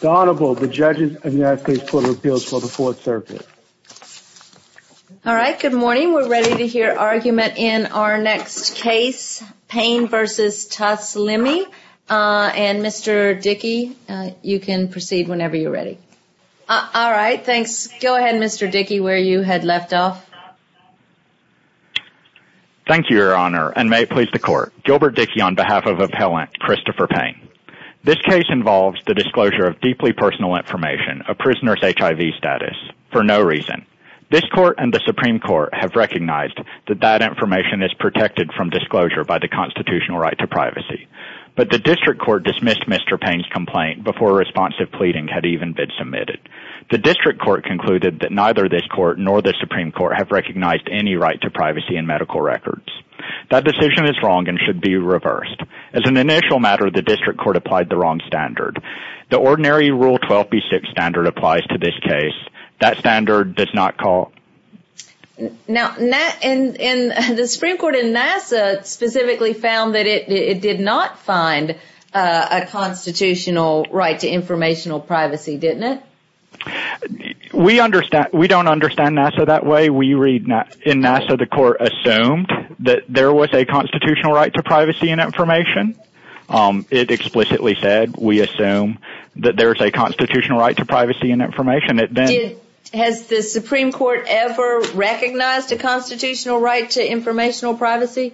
The Honorable, the Judges of the United States Court of Appeals for the Fourth Circuit. All right, good morning. We're ready to hear argument in our next case, Payne v. Taslimi, and Mr. Dickey, you can proceed whenever you're ready. All right, thanks. Go ahead, Mr. Dickey, where you had left off. Thank you, Your Honor, and may it please the Court. Gilbert Dickey on behalf of Appellant Christopher Payne. This case involves the disclosure of deeply personal information, a prisoner's HIV status, for no reason. This Court and the Supreme Court have recognized that that information is protected from disclosure by the constitutional right to privacy, but the District Court dismissed Mr. Payne's complaint before a responsive pleading had even been submitted. The District Court concluded that neither this Court nor the Supreme Court have recognized any right to privacy in medical records. That decision is wrong and should be reversed. As an initial matter, the District Court applied the wrong standard. The ordinary Rule 12b6 standard applies to this case. That standard does not call. Now, the Supreme Court in Nassau specifically found that it did not find a constitutional right to informational privacy, didn't it? We don't understand Nassau that way. In Nassau, the Court assumed that there was a constitutional right to privacy and information. It explicitly said we assume that there is a constitutional right to privacy and information. Has the Supreme Court ever recognized a constitutional right to informational privacy?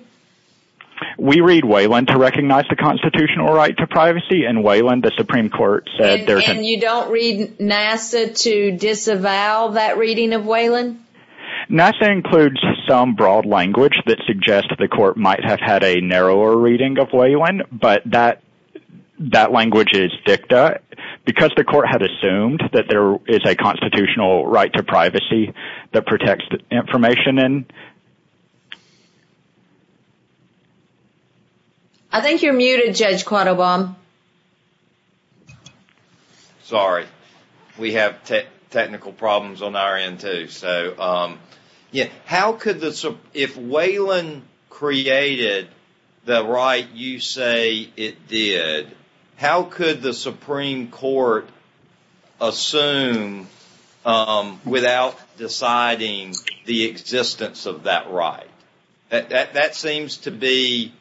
We read Whelan to recognize the constitutional right to privacy. In Whelan, the Supreme Court said... And you don't read Nassau to disavow that reading of Whelan? Nassau includes some broad language that suggests the Court might have had a narrower reading of Whelan, but that language is dicta. Because the Court had assumed that there is a constitutional right to privacy that protects information... I think you're muted, Judge Quattlebaum. Sorry. We have technical problems on our end, too. If Whelan created the right you say it did, how could the Supreme Court assume without deciding the existence of that right? That seems to be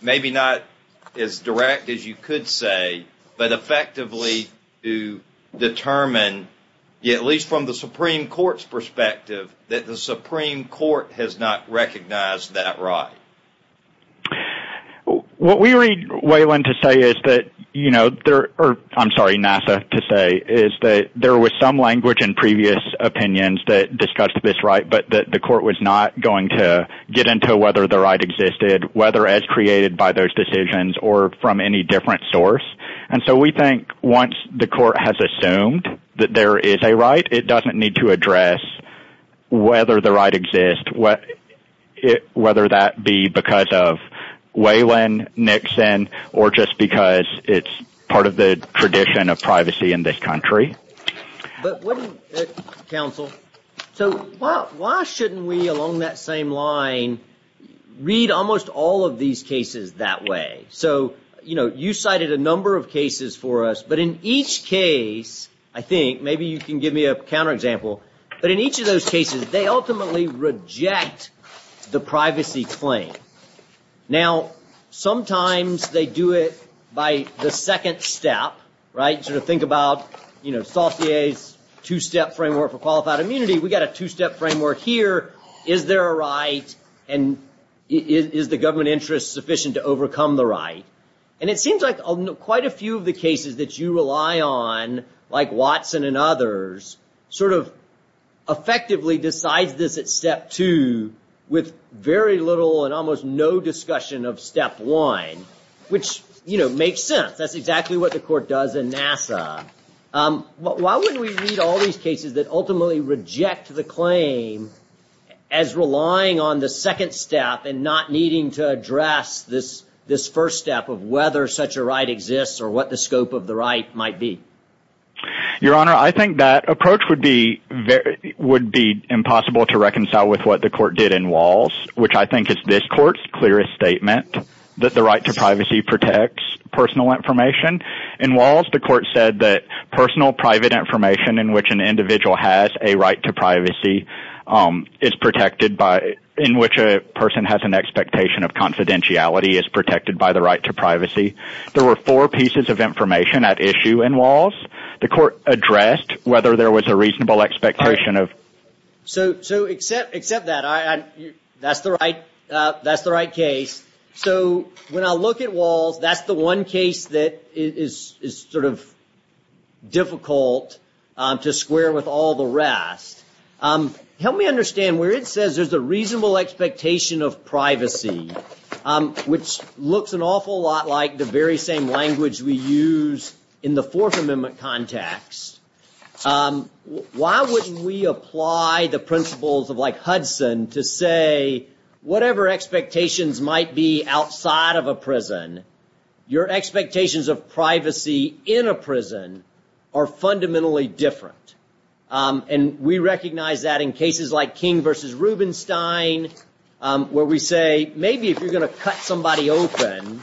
maybe not as direct as you could say, but effectively to determine, at least from the Supreme Court's perspective, that the Supreme Court has not recognized that right. What we read Whelan to say is that – I'm sorry, Nassau to say – is that there was some language in previous opinions that discussed this right, but that the Court was not going to get into whether the right existed, whether as created by those decisions, or from any different source. And so we think once the Court has assumed that there is a right, it doesn't need to address whether the right exists, whether that be because of Whelan, Nixon, or just because it's part of the tradition of privacy in this country. Counsel, so why shouldn't we, along that same line, read almost all of these cases that way? So you cited a number of cases for us, but in each case, I think – maybe you can give me a counterexample – but in each of those cases, they ultimately reject the privacy claim. Now, sometimes they do it by the second step, right? Sort of think about Saucier's two-step framework for qualified immunity. We've got a two-step framework here. Is there a right, and is the government interest sufficient to overcome the right? And it seems like quite a few of the cases that you rely on, like Watson and others, sort of effectively decides this at step two with very little and almost no discussion of step one, which, you know, makes sense. That's exactly what the Court does in NASA. Why wouldn't we read all these cases that ultimately reject the claim as relying on the second step and not needing to address this first step of whether such a right exists or what the scope of the right might be? Your Honor, I think that approach would be impossible to reconcile with what the Court did in Walz, which I think is this Court's clearest statement that the right to privacy protects personal information. In Walz, the Court said that personal private information in which an individual has a right to privacy is protected by – in which a person has an expectation of confidentiality is protected by the right to privacy. There were four pieces of information at issue in Walz. The Court addressed whether there was a reasonable expectation of – So except that, that's the right case. So when I look at Walz, that's the one case that is sort of difficult to square with all the rest. Help me understand where it says there's a reasonable expectation of privacy, which looks an awful lot like the very same language we use in the Fourth Amendment context. Why wouldn't we apply the principles of like Hudson to say whatever expectations might be outside of a prison, your expectations of privacy in a prison are fundamentally different? And we recognize that in cases like King v. Rubenstein, where we say maybe if you're going to cut somebody open,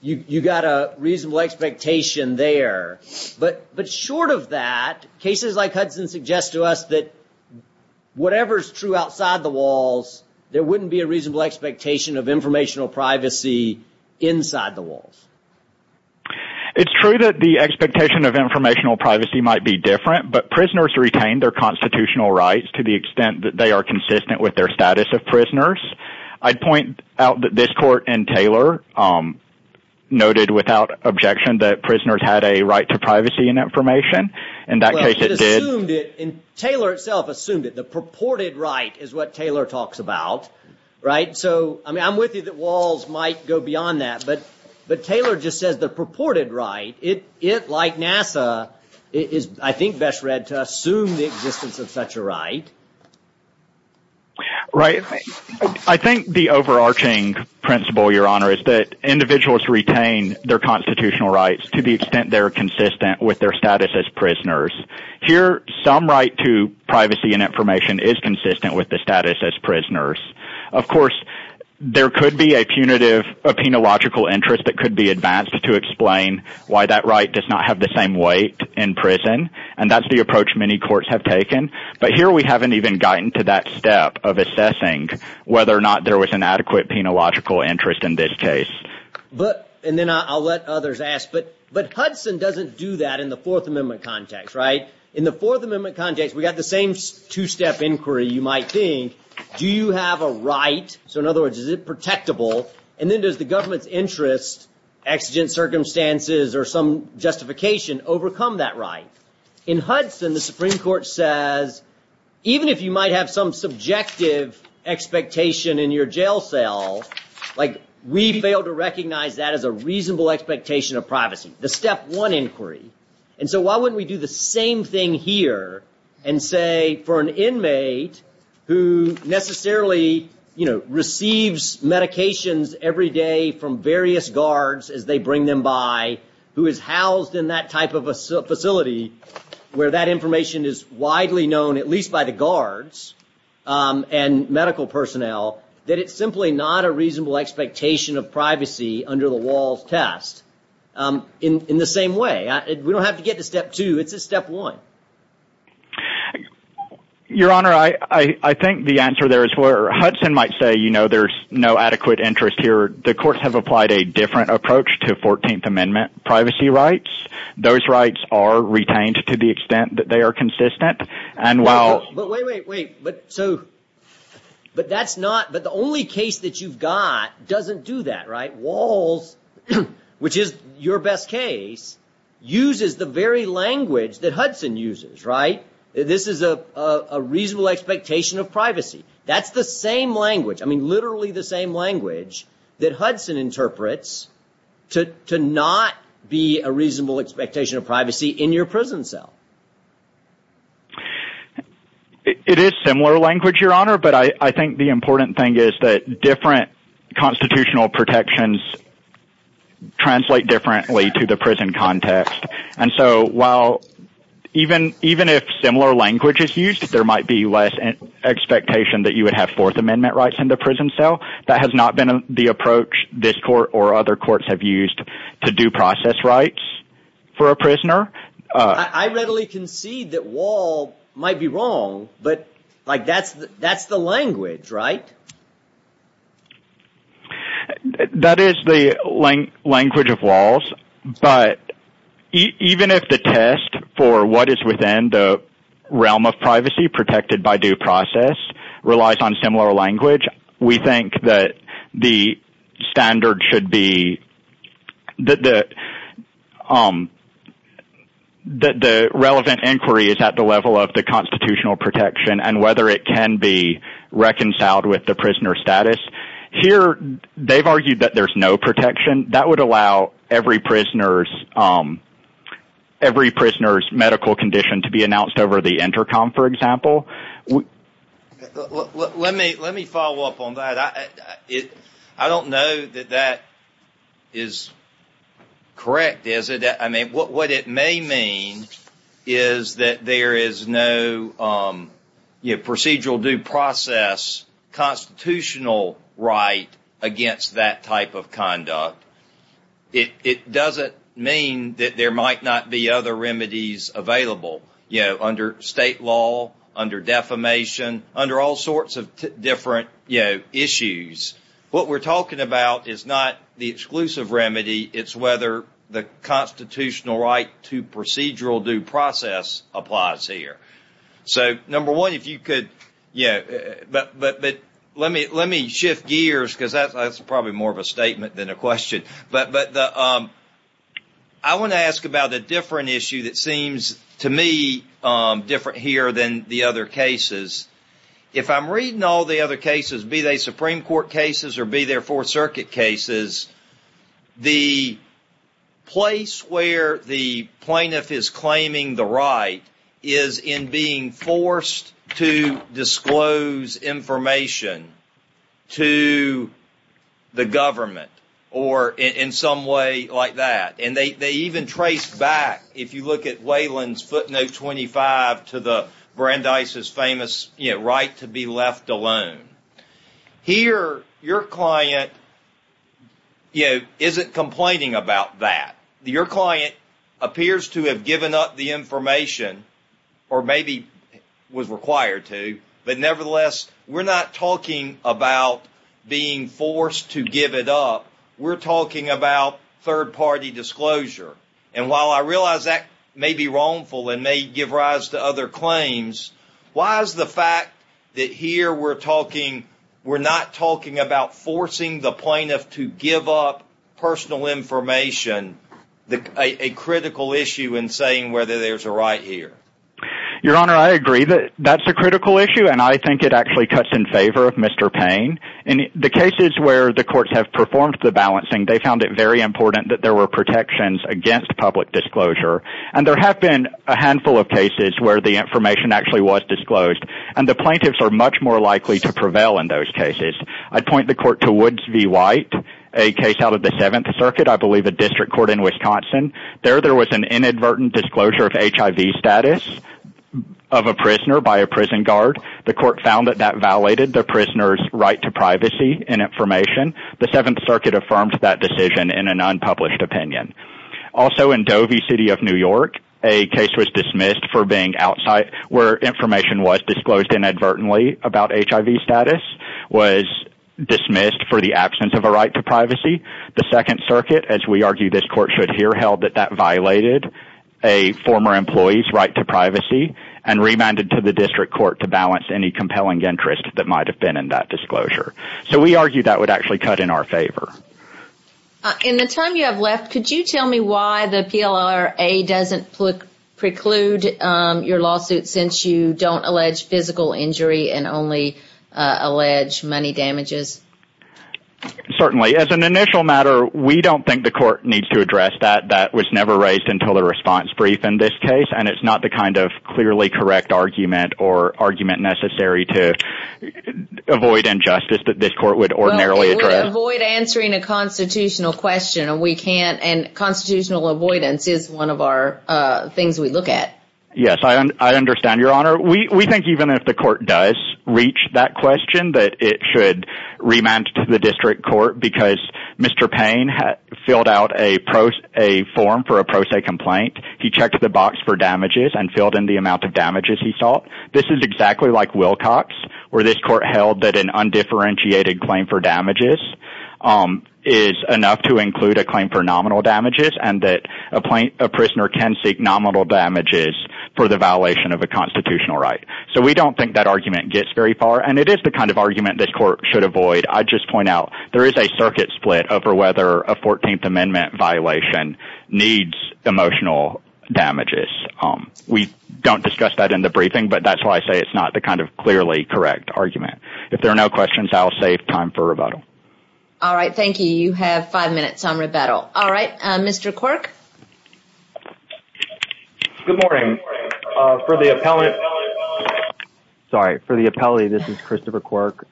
you've got a reasonable expectation there. But short of that, cases like Hudson suggest to us that whatever is true outside the Walz, there wouldn't be a reasonable expectation of informational privacy inside the Walz. It's true that the expectation of informational privacy might be different, but prisoners retain their constitutional rights to the extent that they are consistent with their status of prisoners. I'd point out that this court in Taylor noted without objection that prisoners had a right to privacy and information. In that case, it did. Well, it assumed it, and Taylor itself assumed it. The purported right is what Taylor talks about, right? So I'm with you that Walz might go beyond that, but Taylor just says the purported right, it, like NASA, is I think best read to assume the existence of such a right. Right. I think the overarching principle, Your Honor, is that individuals retain their constitutional rights to the extent they're consistent with their status as prisoners. Here, some right to privacy and information is consistent with the status as prisoners. Of course, there could be a punitive, a penological interest that could be advanced to explain why that right does not have the same weight in prison, and that's the approach many courts have taken. But here, we haven't even gotten to that step of assessing whether or not there was an adequate penological interest in this case. And then I'll let others ask, but Hudson doesn't do that in the Fourth Amendment context, right? In the Fourth Amendment context, we've got the same two-step inquiry, you might think. Do you have a right? So in other words, is it protectable? And then does the government's interest, exigent circumstances, or some justification overcome that right? In Hudson, the Supreme Court says, even if you might have some subjective expectation in your jail cell, we fail to recognize that as a reasonable expectation of privacy, the step one inquiry. And so why wouldn't we do the same thing here and say for an inmate who necessarily, you know, receives medications every day from various guards as they bring them by, who is housed in that type of a facility where that information is widely known, at least by the guards and medical personnel, that it's simply not a reasonable expectation of privacy under the WALLS test in the same way? We don't have to get to step two. It's a step one. Your Honor, I think the answer there is where Hudson might say, you know, there's no adequate interest here. The courts have applied a different approach to 14th Amendment privacy rights. Those rights are retained to the extent that they are consistent. But wait, wait, wait. So, but that's not, but the only case that you've got doesn't do that, right? WALLS, which is your best case, uses the very language that Hudson uses, right? That's the same language. I mean, literally the same language that Hudson interprets to not be a reasonable expectation of privacy in your prison cell. It is similar language, Your Honor, but I think the important thing is that different constitutional protections translate differently to the prison context. And so while even if similar language is used, there might be less expectation that you would have Fourth Amendment rights in the prison cell. That has not been the approach this court or other courts have used to do process rights for a prisoner. I readily concede that WALLS might be wrong, but like that's the language, right? That is the language of WALLS, but even if the test for what is within the realm of privacy protected by due process relies on similar language, we think that the standard should be that the relevant inquiry is at the level of the constitutional protection and whether it can be reconciled with the prisoner status. Here, they've argued that there's no protection. That would allow every prisoner's medical condition to be announced over the intercom, for example. Let me follow up on that. I don't know that that is correct, is it? I mean, what it may mean is that there is no procedural due process constitutional right against that type of conduct. It doesn't mean that there might not be other remedies available under state law, under defamation, under all sorts of different issues. What we're talking about is not the exclusive remedy. It's whether the constitutional right to procedural due process applies here. Number one, let me shift gears because that's probably more of a statement than a question. I want to ask about a different issue that seems to me different here than the other cases. If I'm reading all the other cases, be they Supreme Court cases or be they Fourth Circuit cases, the place where the plaintiff is claiming the right is in being forced to disclose information to the government or in some way like that. They even trace back, if you look at Leyland's footnote 25 to Brandeis' famous right to be left alone. Here, your client isn't complaining about that. Your client appears to have given up the information or maybe was required to, but nevertheless, we're not talking about being forced to give it up. We're talking about third-party disclosure. While I realize that may be wrongful and may give rise to other claims, why is the fact that here we're not talking about forcing the plaintiff to give up personal information a critical issue in saying whether there's a right here? Your Honor, I agree that that's a critical issue, and I think it actually cuts in favor of Mr. Payne. In the cases where the courts have performed the balancing, they found it very important that there were protections against public disclosure, and there have been a handful of cases where the information actually was disclosed, and the plaintiffs are much more likely to prevail in those cases. I'd point the court to Woods v. White, a case out of the Seventh Circuit, I believe a district court in Wisconsin. There, there was an inadvertent disclosure of HIV status of a prisoner by a prison guard. The court found that that violated the prisoner's right to privacy and information. The Seventh Circuit affirmed that decision in an unpublished opinion. Also in Dovey City of New York, a case was dismissed for being outside where information was disclosed inadvertently about HIV status, was dismissed for the absence of a right to privacy. The Second Circuit, as we argue this court should hear, held that that violated a former employee's right to privacy and remanded to the district court to balance any compelling interest that might have been in that disclosure. So we argue that would actually cut in our favor. In the time you have left, could you tell me why the PLRA doesn't preclude your lawsuit since you don't allege physical injury and only allege money damages? Certainly. As an initial matter, we don't think the court needs to address that. That was never raised until the response brief in this case, and it's not the kind of clearly correct argument or argument necessary to avoid injustice that this court would ordinarily address. Well, it would avoid answering a constitutional question, and we can't, and constitutional avoidance is one of our things we look at. Yes, I understand, Your Honor. We think even if the court does reach that question, that it should remand to the district court because Mr. Payne filled out a form for a pro se complaint. He checked the box for damages and filled in the amount of damages he sought. This is exactly like Wilcox where this court held that an undifferentiated claim for damages is enough to include a claim for nominal damages and that a prisoner can seek nominal damages for the violation of a constitutional right. So we don't think that argument gets very far, and it is the kind of argument this court should avoid. I'd just point out there is a circuit split over whether a 14th Amendment violation needs emotional damages. We don't discuss that in the briefing, but that's why I say it's not the kind of clearly correct argument. If there are no questions, I will save time for rebuttal. All right, thank you. You have five minutes on rebuttal. All right, Mr. Quirk. Good morning. For the appellate – sorry, for the appellee, this is Christopher Quirk.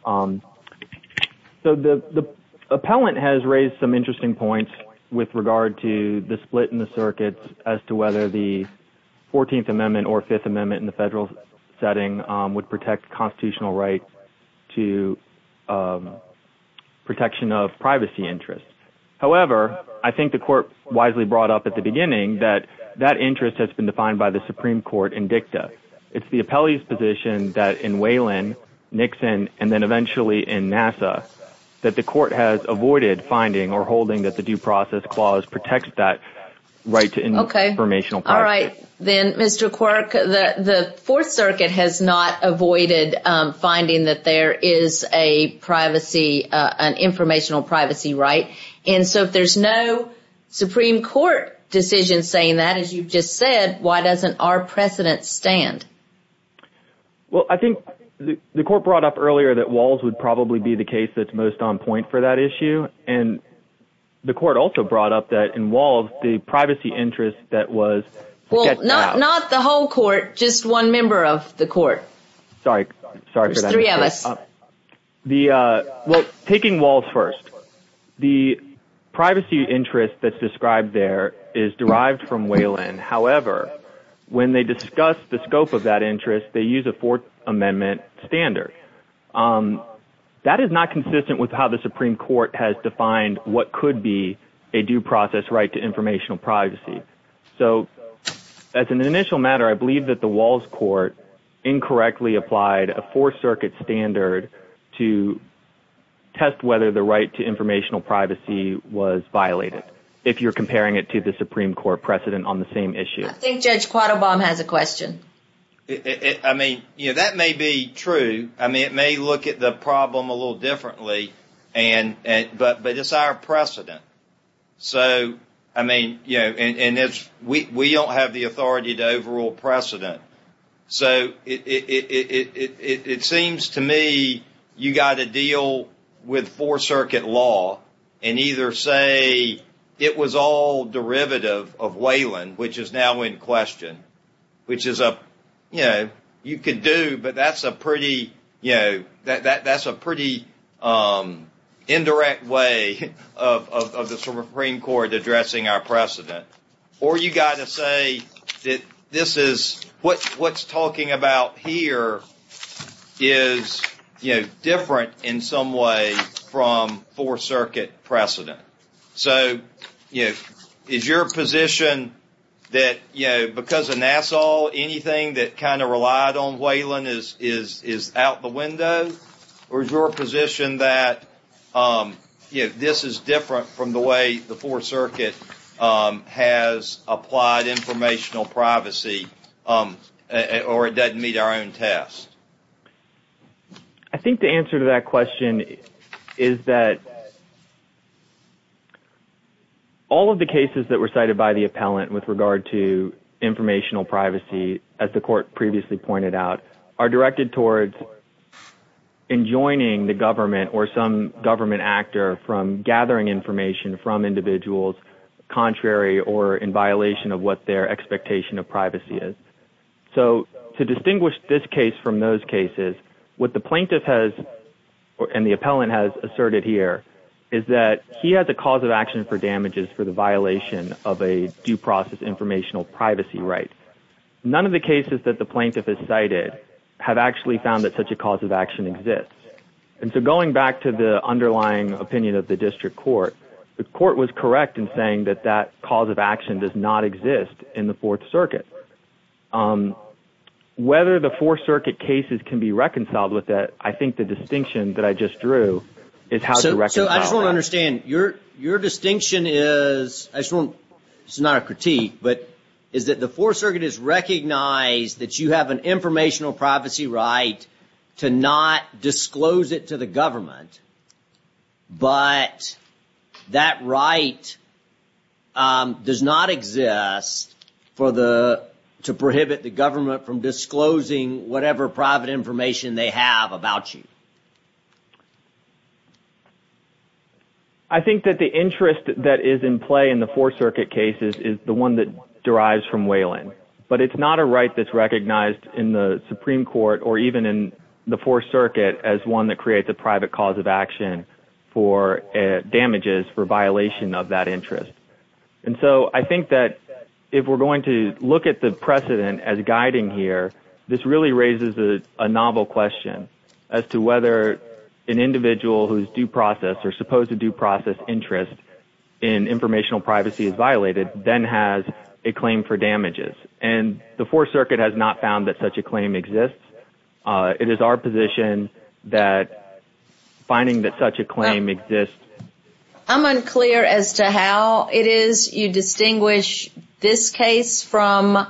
So the appellant has raised some interesting points with regard to the split in the circuits as to whether the 14th Amendment or Fifth Amendment in the federal setting would protect constitutional rights to protection of privacy interests. However, I think the court wisely brought up at the beginning that that interest has been defined by the Supreme Court in dicta. It's the appellee's position that in Whelan, Nixon, and then eventually in NASA, that the court has avoided finding or holding that the Due Process Clause protects that right to informational privacy. All right, then, Mr. Quirk. The Fourth Circuit has not avoided finding that there is a privacy – an informational privacy right. And so if there's no Supreme Court decision saying that, as you've just said, why doesn't our precedent stand? Well, I think the court brought up earlier that Walls would probably be the case that's most on point for that issue. And the court also brought up that in Walls, the privacy interest that was – Well, not the whole court, just one member of the court. Sorry, sorry for that. There's three of us. Well, taking Walls first, the privacy interest that's described there is derived from Whelan. However, when they discuss the scope of that interest, they use a Fourth Amendment standard. That is not consistent with how the Supreme Court has defined what could be a due process right to informational privacy. So, as an initial matter, I believe that the Walls Court incorrectly applied a Fourth Circuit standard to test whether the right to informational privacy was violated, if you're comparing it to the Supreme Court precedent on the same issue. I mean, you know, that may be true. I mean, it may look at the problem a little differently, but it's our precedent. So, I mean, you know, and we don't have the authority to overrule precedent. So, it seems to me you've got to deal with Fourth Circuit law and either say it was all derivative of Whelan, which is now in question, which is a, you know, you could do, but that's a pretty, you know, that's a pretty indirect way of the Supreme Court addressing our precedent. Or you've got to say that this is, what's talking about here is, you know, different in some way from Fourth Circuit precedent. So, you know, is your position that, you know, because of Nassau, anything that kind of relied on Whelan is out the window? Or is your position that, you know, this is different from the way the Fourth Circuit has applied informational privacy, or it doesn't meet our own test? I think the answer to that question is that all of the cases that were cited by the appellant with regard to informational privacy, as the court previously pointed out, are directed towards enjoining the government or some government actor from gathering information from individuals contrary or in violation of what their expectation of privacy is. So to distinguish this case from those cases, what the plaintiff has, and the appellant has asserted here, is that he has a cause of action for damages for the violation of a due process informational privacy right. None of the cases that the plaintiff has cited have actually found that such a cause of action exists. And so going back to the underlying opinion of the district court, the court was correct in saying that that cause of action does not exist in the Fourth Circuit. Whether the Fourth Circuit cases can be reconciled with that, I think the distinction that I just drew is how to reconcile that. So I just want to understand, your distinction is, this is not a critique, but is that the Fourth Circuit has recognized that you have an informational privacy right to not disclose it to the government, but that right does not exist to prohibit the government from disclosing whatever private information they have about you? I think that the interest that is in play in the Fourth Circuit cases is the one that derives from Wayland. But it's not a right that's recognized in the Supreme Court or even in the Fourth Circuit as one that creates a private cause of action for damages for violation of that interest. And so I think that if we're going to look at the precedent as guiding here, this really raises a novel question as to whether an individual whose due process or supposed to due process interest in informational privacy is violated, then has a claim for damages. And the Fourth Circuit has not found that such a claim exists. It is our position that finding that such a claim exists... I'm unclear as to how it is you distinguish this case from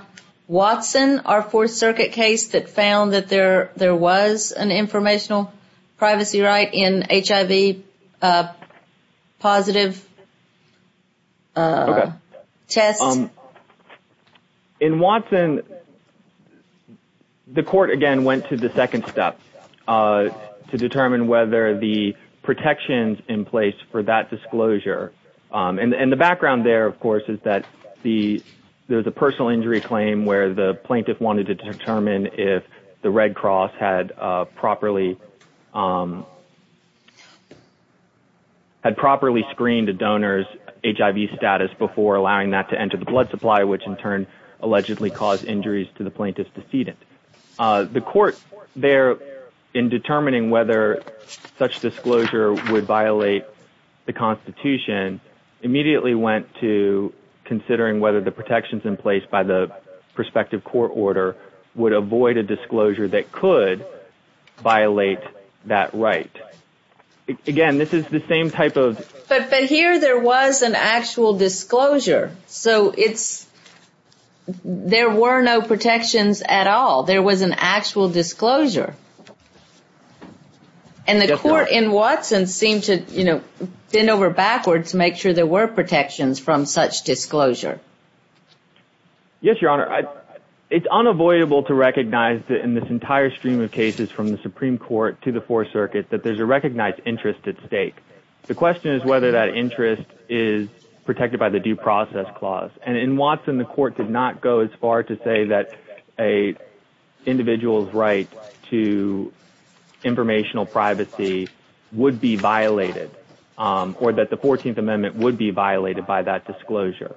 Watson, our Fourth Circuit case, that found that there was an informational privacy right in HIV-positive tests. In Watson, the court, again, went to the second step to determine whether the protections in place for that disclosure... And the background there, of course, is that there's a personal injury claim where the plaintiff wanted to determine if the Red Cross had properly screened a donor's HIV status before allowing that to enter the blood supply, which in turn allegedly caused injuries to the plaintiff's decedent. The court there, in determining whether such disclosure would violate the Constitution, immediately went to considering whether the protections in place by the prospective court order would avoid a disclosure that could violate that right. Again, this is the same type of... But here there was an actual disclosure, so there were no protections at all. There was an actual disclosure. And the court in Watson seemed to bend over backwards to make sure there were protections from such disclosure. Yes, Your Honor. It's unavoidable to recognize that in this entire stream of cases from the Supreme Court to the Fourth Circuit that there's a recognized interest at stake. The question is whether that interest is protected by the Due Process Clause. And in Watson, the court did not go as far to say that an individual's right to informational privacy would be violated or that the 14th Amendment would be violated by that disclosure.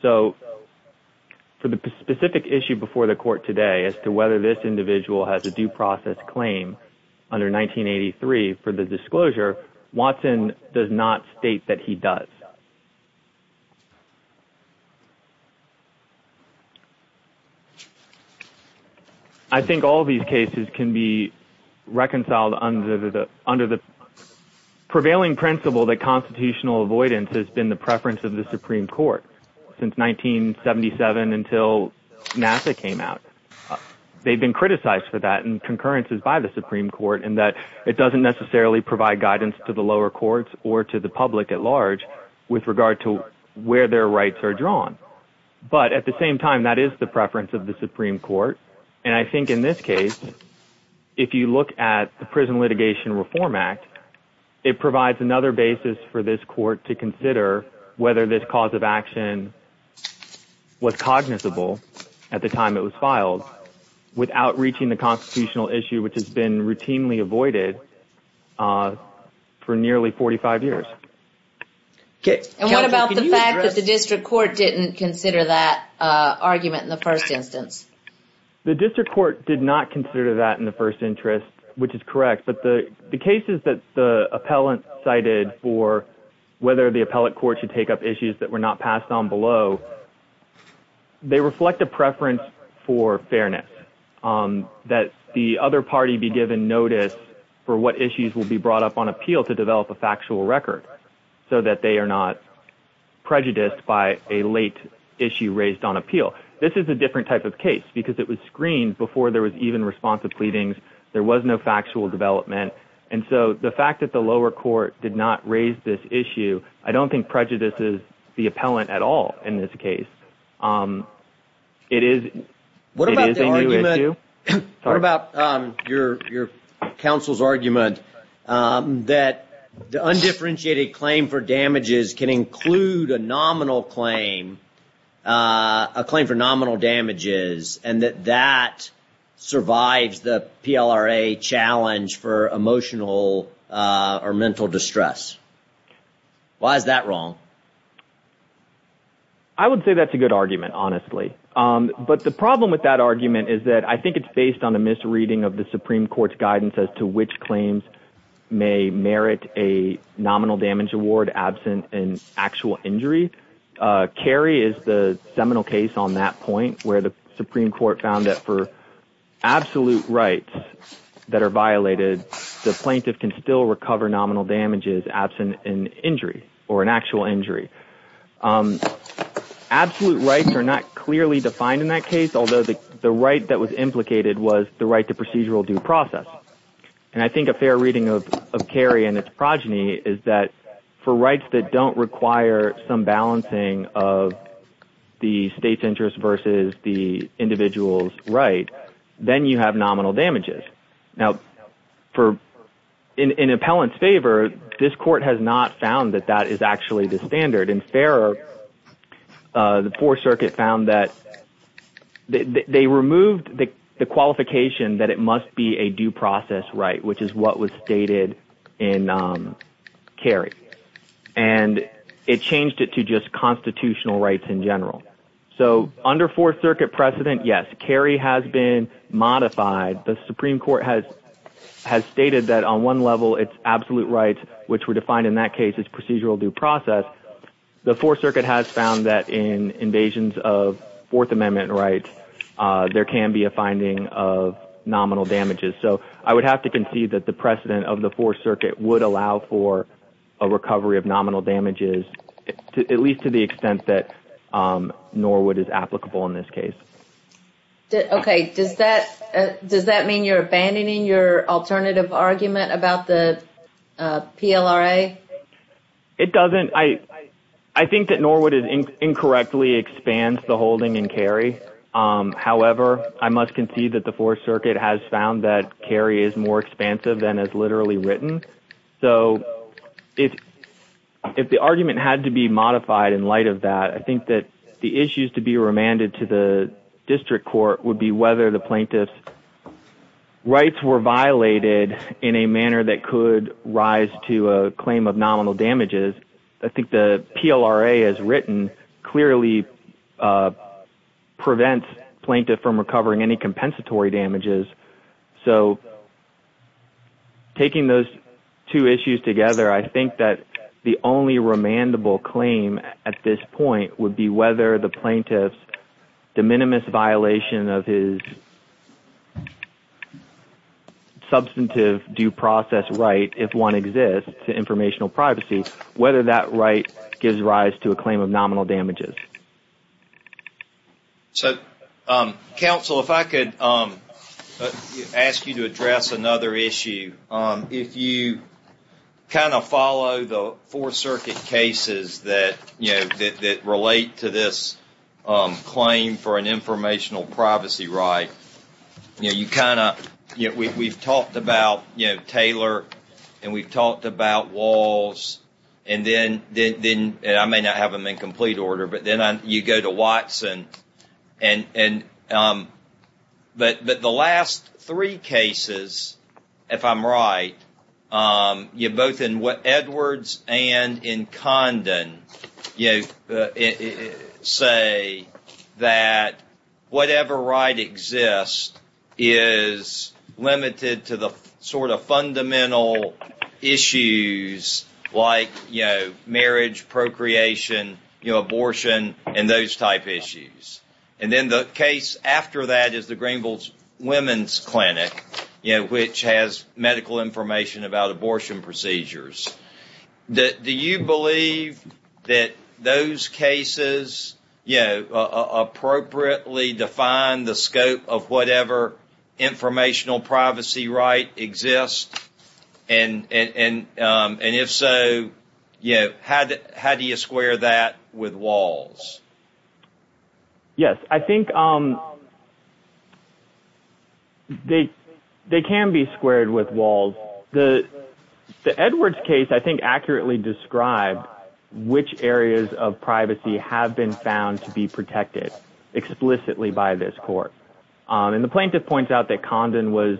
So for the specific issue before the court today as to whether this individual has a due process claim under 1983 for the disclosure, Watson does not state that he does. I think all these cases can be reconciled under the prevailing principle that constitutional avoidance has been the preference of the Supreme Court since 1977 until NASA came out. They've been criticized for that in concurrences by the Supreme Court in that it doesn't necessarily provide guidance to the lower courts or to the public at large with regard to where their rights are drawn. But at the same time, that is the preference of the Supreme Court. And I think in this case, if you look at the Prison Litigation Reform Act, it provides another basis for this court to consider whether this cause of action was cognizable at the time it was filed without reaching the constitutional issue, which has been routinely avoided for nearly 45 years. And what about the fact that the district court didn't consider that argument in the first instance? The district court did not consider that in the first interest, which is correct. But the cases that the appellant cited for whether the appellate court should take up issues that were not passed on below, they reflect a preference for fairness, that the other party be given notice for what issues will be brought up on appeal to develop a factual record so that they are not prejudiced by a late issue raised on appeal. This is a different type of case because it was screened before there was even responsive pleadings. There was no factual development. And so the fact that the lower court did not raise this issue, I don't think prejudices the appellant at all in this case. It is a new issue. What about your counsel's argument that the undifferentiated claim for damages can include a nominal claim, a claim for nominal damages, and that that survives the PLRA challenge for emotional or mental distress? Why is that wrong? I would say that's a good argument, honestly. But the problem with that argument is that I think it's based on a misreading of the Supreme Court's guidance as to which claims may merit a nominal damage award absent an actual injury. Cary is the seminal case on that point, where the Supreme Court found that for absolute rights that are violated, the plaintiff can still recover nominal damages absent an injury or an actual injury. Absolute rights are not clearly defined in that case, although the right that was implicated was the right to procedural due process. And I think a fair reading of Cary and its progeny is that for rights that don't require some balancing of the state's interest versus the individual's right, then you have nominal damages. Now, in appellant's favor, this court has not found that that is actually the standard. And the Fourth Circuit found that they removed the qualification that it must be a due process right, which is what was stated in Cary. And it changed it to just constitutional rights in general. So under Fourth Circuit precedent, yes, Cary has been modified. The Supreme Court has stated that on one level it's absolute rights, which were defined in that case as procedural due process. The Fourth Circuit has found that in invasions of Fourth Amendment rights, there can be a finding of nominal damages. So I would have to concede that the precedent of the Fourth Circuit would allow for a recovery of nominal damages, at least to the extent that Norwood is applicable in this case. Okay. Does that mean you're abandoning your alternative argument about the PLRA? It doesn't. However, I must concede that the Fourth Circuit has found that Cary is more expansive than is literally written. So if the argument had to be modified in light of that, I think that the issues to be remanded to the district court would be whether the plaintiff's rights were violated in a manner that could rise to a claim of nominal damages. I think the PLRA as written clearly prevents plaintiff from recovering any compensatory damages. So taking those two issues together, I think that the only remandable claim at this point would be whether the plaintiff's de minimis violation of his substantive due process right, if one exists, to informational privacy, whether that right gives rise to a claim of nominal damages. So, counsel, if I could ask you to address another issue. If you kind of follow the Fourth Circuit cases that relate to this claim for an informational privacy right, you kind of, we've talked about Taylor and we've talked about Walls, and then I may not have them in complete order, but then you go to Watson. But the last three cases, if I'm right, both in Edwards and in Condon say that whatever right exists is limited to the sort of fundamental issues like marriage, procreation, abortion, and those type issues. And then the case after that is the Greenville Women's Clinic, which has medical information about abortion procedures. Do you believe that those cases appropriately define the scope of whatever informational privacy right exists? And if so, how do you square that with Walls? Yes, I think they can be squared with Walls. The Edwards case, I think, accurately described which areas of privacy have been found to be protected explicitly by this court. And the plaintiff points out that Condon was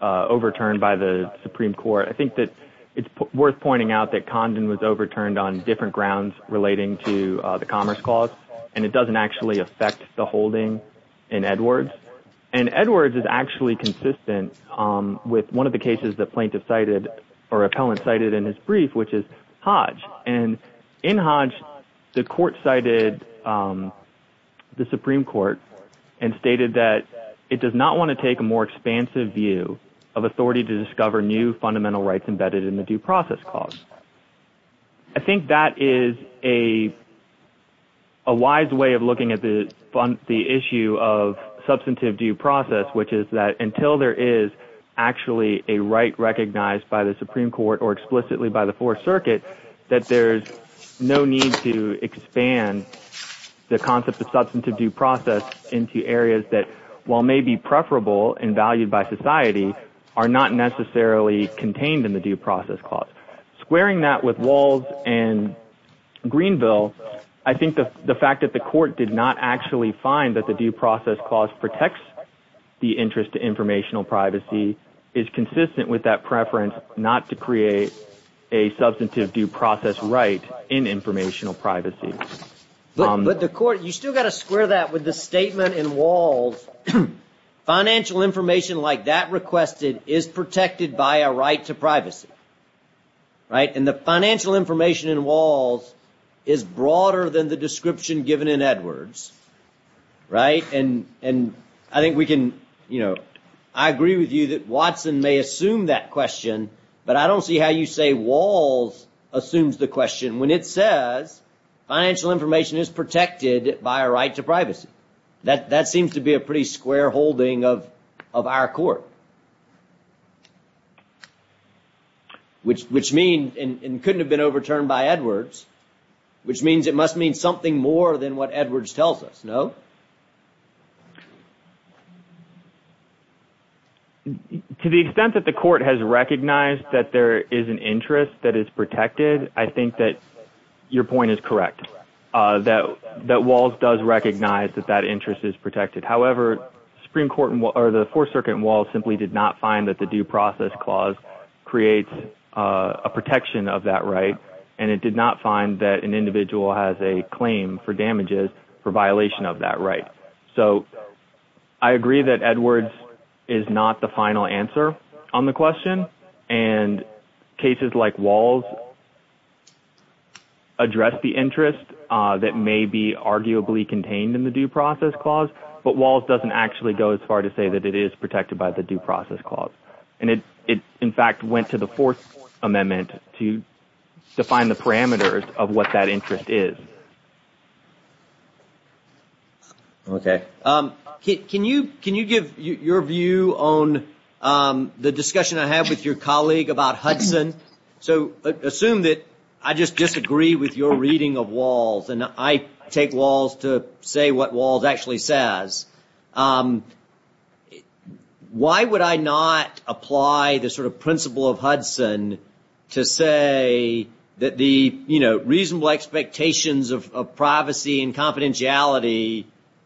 overturned by the Supreme Court. I think that it's worth pointing out that Condon was overturned on different grounds relating to the commerce clause, and it doesn't actually affect the holding in Edwards. And Edwards is actually consistent with one of the cases the plaintiff cited or appellant cited in his brief, which is Hodge. And in Hodge, the court cited the Supreme Court and stated that it does not want to take a more expansive view of authority to discover new fundamental rights embedded in the due process clause. I think that is a wise way of looking at the issue of substantive due process, which is that until there is actually a right recognized by the Supreme Court or explicitly by the Fourth Circuit, that there's no need to expand the concept of substantive due process into areas that, while maybe preferable and valued by society, are not necessarily contained in the due process clause. Squaring that with Walls and Greenville, I think the fact that the court did not actually find that the due process clause protects the interest to informational privacy is consistent with that preference not to create a substantive due process right in informational privacy. But the court, you still got to square that with the statement in Walls, financial information like that requested is protected by a right to privacy. And the financial information in Walls is broader than the description given in Edwards. And I think we can, you know, I agree with you that Watson may assume that question, but I don't see how you say Walls assumes the question when it says financial information is protected by a right to privacy. That seems to be a pretty square holding of our court. Which means, and couldn't have been overturned by Edwards, which means it must mean something more than what Edwards tells us, no? To the extent that the court has recognized that there is an interest that is protected, I think that your point is correct, that Walls does recognize that that interest is protected. However, the Supreme Court or the Fourth Circuit in Walls simply did not find that the due process clause creates a protection of that right. And it did not find that an individual has a claim for damages for violation of that right. So I agree that Edwards is not the final answer on the question. And cases like Walls address the interest that may be arguably contained in the due process clause, but Walls doesn't actually go as far to say that it is protected by the due process clause. And it, in fact, went to the Fourth Amendment to define the parameters of what that interest is. Okay. Can you give your view on the discussion I had with your colleague about Hudson? So assume that I just disagree with your reading of Walls, and I take Walls to say what Walls actually says. Why would I not apply the sort of principle of Hudson to say that the reasonable expectations of privacy and confidentiality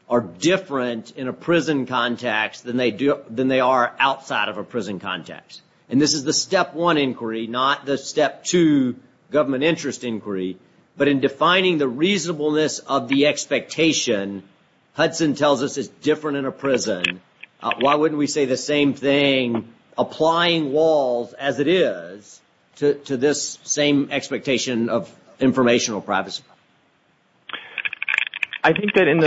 are different in a prison context than they are outside of a prison context? And this is the step one inquiry, not the step two government interest inquiry. But in defining the reasonableness of the expectation, Hudson tells us it's different in a prison. Why wouldn't we say the same thing, applying Walls as it is to this same expectation of informational privacy? I think that in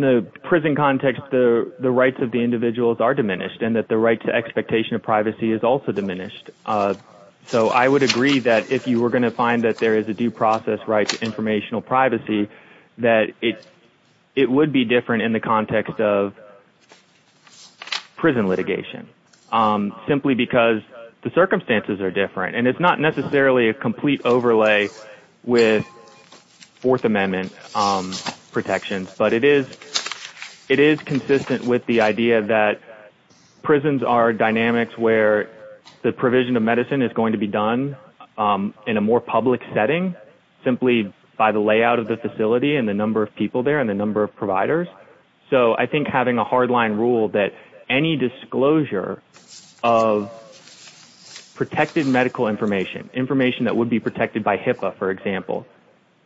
the prison context, the rights of the individuals are diminished and that the right to expectation of privacy is also diminished. So I would agree that if you were going to find that there is a due process right to informational privacy, that it would be different in the context of prison litigation, simply because the circumstances are different. And it's not necessarily a complete overlay with Fourth Amendment protections, but it is consistent with the idea that prisons are dynamics where the provision of medicine is going to be done in a more public setting, simply by the layout of the facility and the number of people there and the number of providers. So I think having a hard line rule that any disclosure of protected medical information, information that would be protected by HIPAA, for example,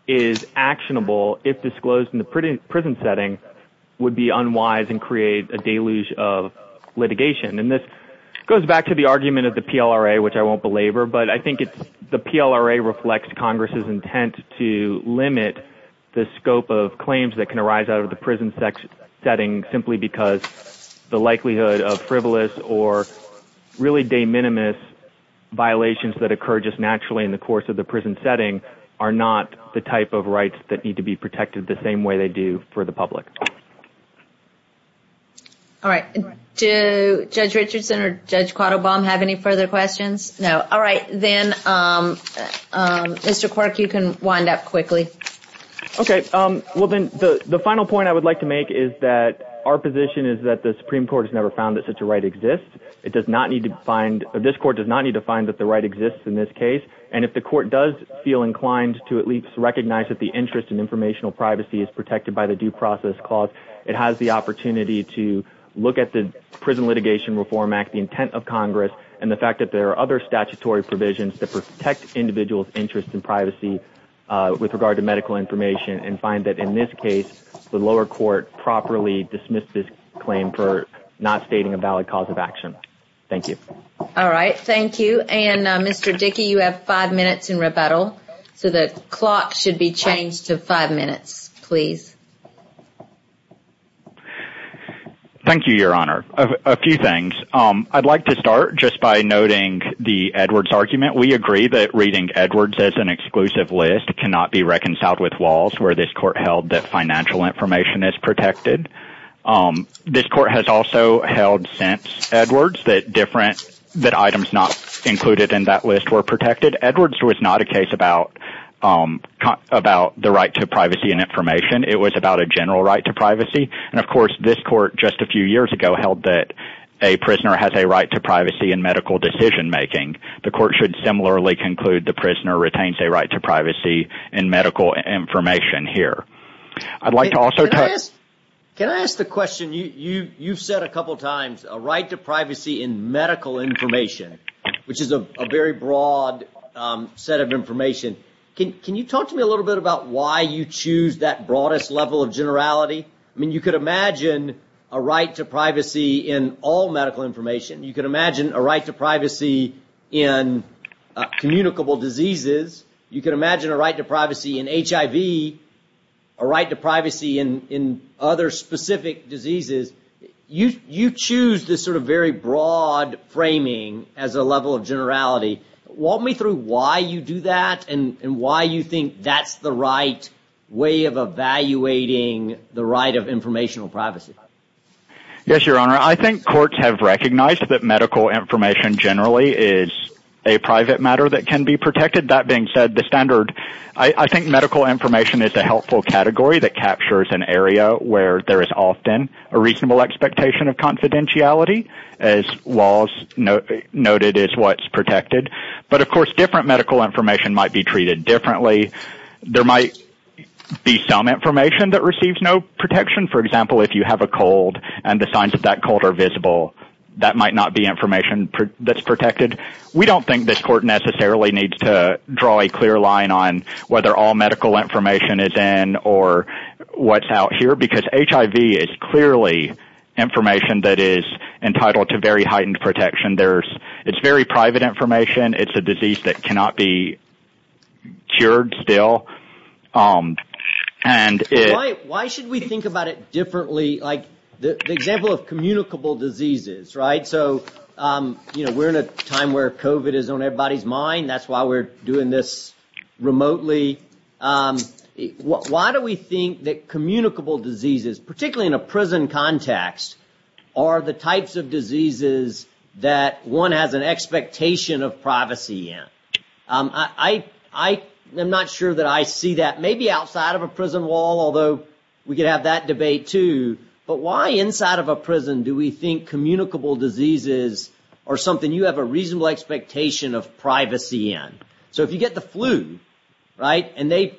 is actionable if disclosed in the prison setting would be unwise and create a deluge of litigation. And this goes back to the argument of the PLRA, which I won't belabor, but I think the PLRA reflects Congress's intent to limit the scope of claims that can arise out of the prison setting simply because the likelihood of frivolous or really de minimis violations that occur just naturally in the course of the prison setting are not the type of rights that need to be protected the same way they do for the public. All right. Do Judge Richardson or Judge Quattlebaum have any further questions? No. All right. Then, Mr. Quirk, you can wind up quickly. Okay. Well, then, the final point I would like to make is that our position is that the Supreme Court has never found that such a right exists. This Court does not need to find that the right exists in this case. And if the Court does feel inclined to at least recognize that the interest in informational privacy is protected by the Due Process Clause, it has the opportunity to look at the Prison Litigation Reform Act, the intent of Congress, and the fact that there are other statutory provisions that protect individuals' interest in privacy with regard to medical information and find that, in this case, the lower court properly dismissed this claim for not stating a valid cause of action. Thank you. All right. Thank you. And, Mr. Dickey, you have five minutes in rebuttal, so the clock should be changed to five minutes, please. Thank you, Your Honor. A few things. I'd like to start just by noting the Edwards argument. We agree that reading Edwards as an exclusive list cannot be reconciled with Walls, where this Court held that financial information is protected. This Court has also held since Edwards that items not included in that list were protected. Edwards was not a case about the right to privacy and information. It was about a general right to privacy. And, of course, this Court just a few years ago held that a prisoner has a right to privacy in medical decision-making. The Court should similarly conclude the prisoner retains a right to privacy in medical information here. Can I ask the question? You've said a couple times a right to privacy in medical information, which is a very broad set of information. Can you talk to me a little bit about why you choose that broadest level of generality? I mean, you could imagine a right to privacy in all medical information. You could imagine a right to privacy in communicable diseases. You could imagine a right to privacy in HIV, a right to privacy in other specific diseases. You choose this sort of very broad framing as a level of generality. Walk me through why you do that and why you think that's the right way of evaluating the right of informational privacy. Yes, Your Honor. I think courts have recognized that medical information generally is a private matter that can be protected. That being said, the standard – I think medical information is a helpful category that captures an area where there is often a reasonable expectation of confidentiality as laws noted as what's protected. But, of course, different medical information might be treated differently. There might be some information that receives no protection. For example, if you have a cold and the signs of that cold are visible, that might not be information that's protected. We don't think this court necessarily needs to draw a clear line on whether all medical information is in or what's out here because HIV is clearly information that is entitled to very heightened protection. It's very private information. It's a disease that cannot be cured still. Why should we think about it differently? The example of communicable diseases. We're in a time where COVID is on everybody's mind. That's why we're doing this remotely. Why do we think that communicable diseases, particularly in a prison context, are the types of diseases that one has an expectation of privacy in? I'm not sure that I see that. Maybe outside of a prison wall, although we could have that debate too. But why inside of a prison do we think communicable diseases are something you have a reasonable expectation of privacy in? If you get the flu, the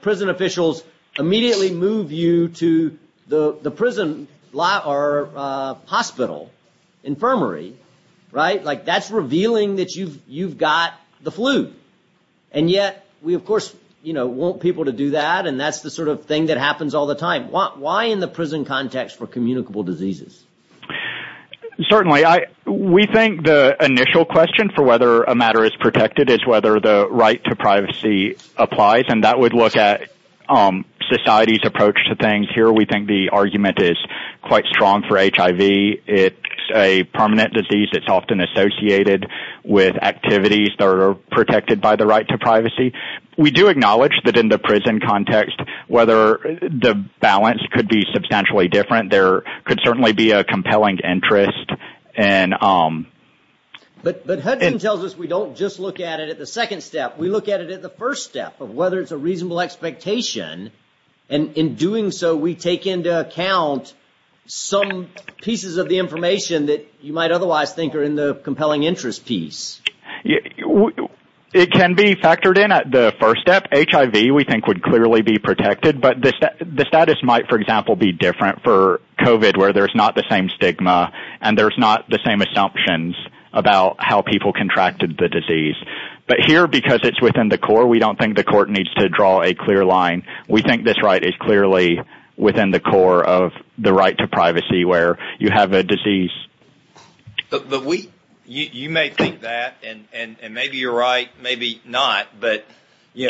prison officials immediately move you to the hospital, infirmary. That's revealing that you've got the flu. Yet, we, of course, want people to do that. That's the sort of thing that happens all the time. Why in the prison context for communicable diseases? Certainly. We think the initial question for whether a matter is protected is whether the right to privacy applies. That would look at society's approach to things. Here, we think the argument is quite strong for HIV. It's a permanent disease that's often associated with activities that are protected by the right to privacy. We do acknowledge that in the prison context, whether the balance could be substantially different, there could certainly be a compelling interest. But Hudson tells us we don't just look at it at the second step. We look at it at the first step of whether it's a reasonable expectation. In doing so, we take into account some pieces of the information that you might otherwise think are in the compelling interest piece. It can be factored in at the first step. HIV, we think, would clearly be protected. But the status might, for example, be different for COVID, where there's not the same stigma and there's not the same assumptions about how people contracted the disease. But here, because it's within the core, we don't think the court needs to draw a clear line. We think this right is clearly within the core of the right to privacy where you have a disease. You may think that, and maybe you're right, maybe not. But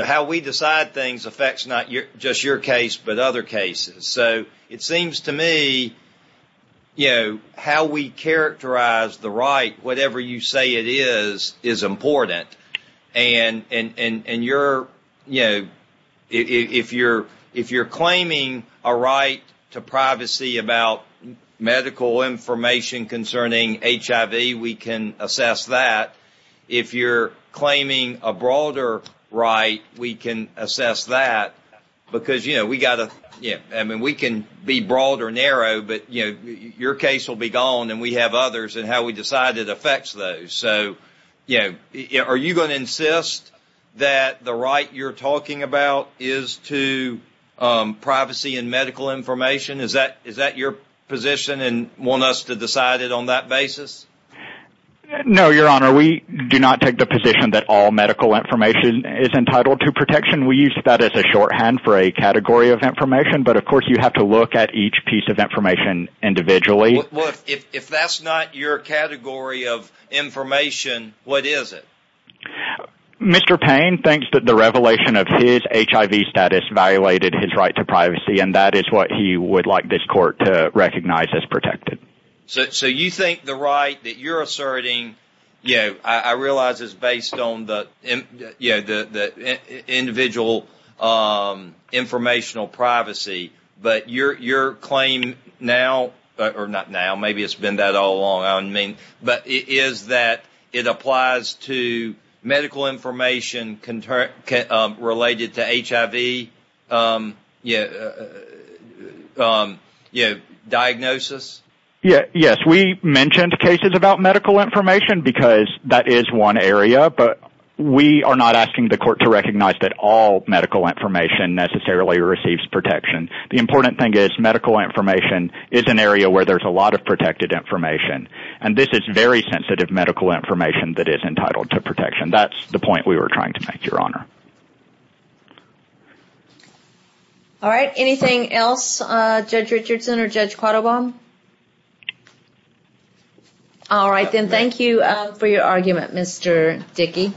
how we decide things affects not just your case, but other cases. It seems to me how we characterize the right, whatever you say it is, is important. If you're claiming a right to privacy about medical information concerning HIV, we can assess that. If you're claiming a broader right, we can assess that. We can be broad or narrow, but your case will be gone and we have others and how we decide it affects those. Are you going to insist that the right you're talking about is to privacy and medical information? Is that your position and want us to decide it on that basis? No, Your Honor. We do not take the position that all medical information is entitled to protection. We use that as a shorthand for a category of information, but of course you have to look at each piece of information individually. If that's not your category of information, what is it? Mr. Payne thinks that the revelation of his HIV status violated his right to privacy and that is what he would like this court to recognize as protected. So you think the right that you're asserting, I realize it's based on the individual informational privacy, but your claim now, or not now, maybe it's been that all along, but is that it applies to medical information related to HIV diagnosis? Yes, we mentioned cases about medical information because that is one area, but we are not asking the court to recognize that all medical information necessarily receives protection. The important thing is medical information is an area where there's a lot of protected information and this is very sensitive medical information that is entitled to protection. That's the point we were trying to make, Your Honor. Anything else, Judge Richardson or Judge Quattlebaum? All right, then. Thank you for your argument, Mr. Dickey.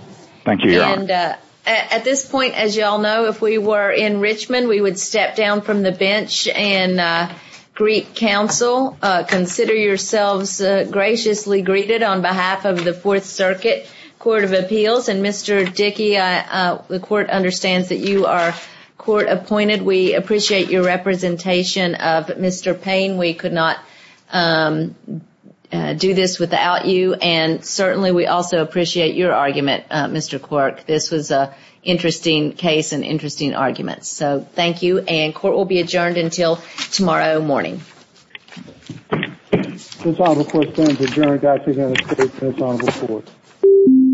Thank you, Your Honor. At this point, as you all know, if we were in Richmond, we would step down from the bench and greet counsel. Consider yourselves graciously greeted on behalf of the Fourth Circuit Court of Appeals. And Mr. Dickey, the court understands that you are court-appointed. We appreciate your representation of Mr. Payne. We could not do this without you. And certainly, we also appreciate your argument, Mr. Quirk. This was an interesting case and interesting argument. So, thank you, and court will be adjourned until tomorrow morning. This Honorable Court stands adjourned.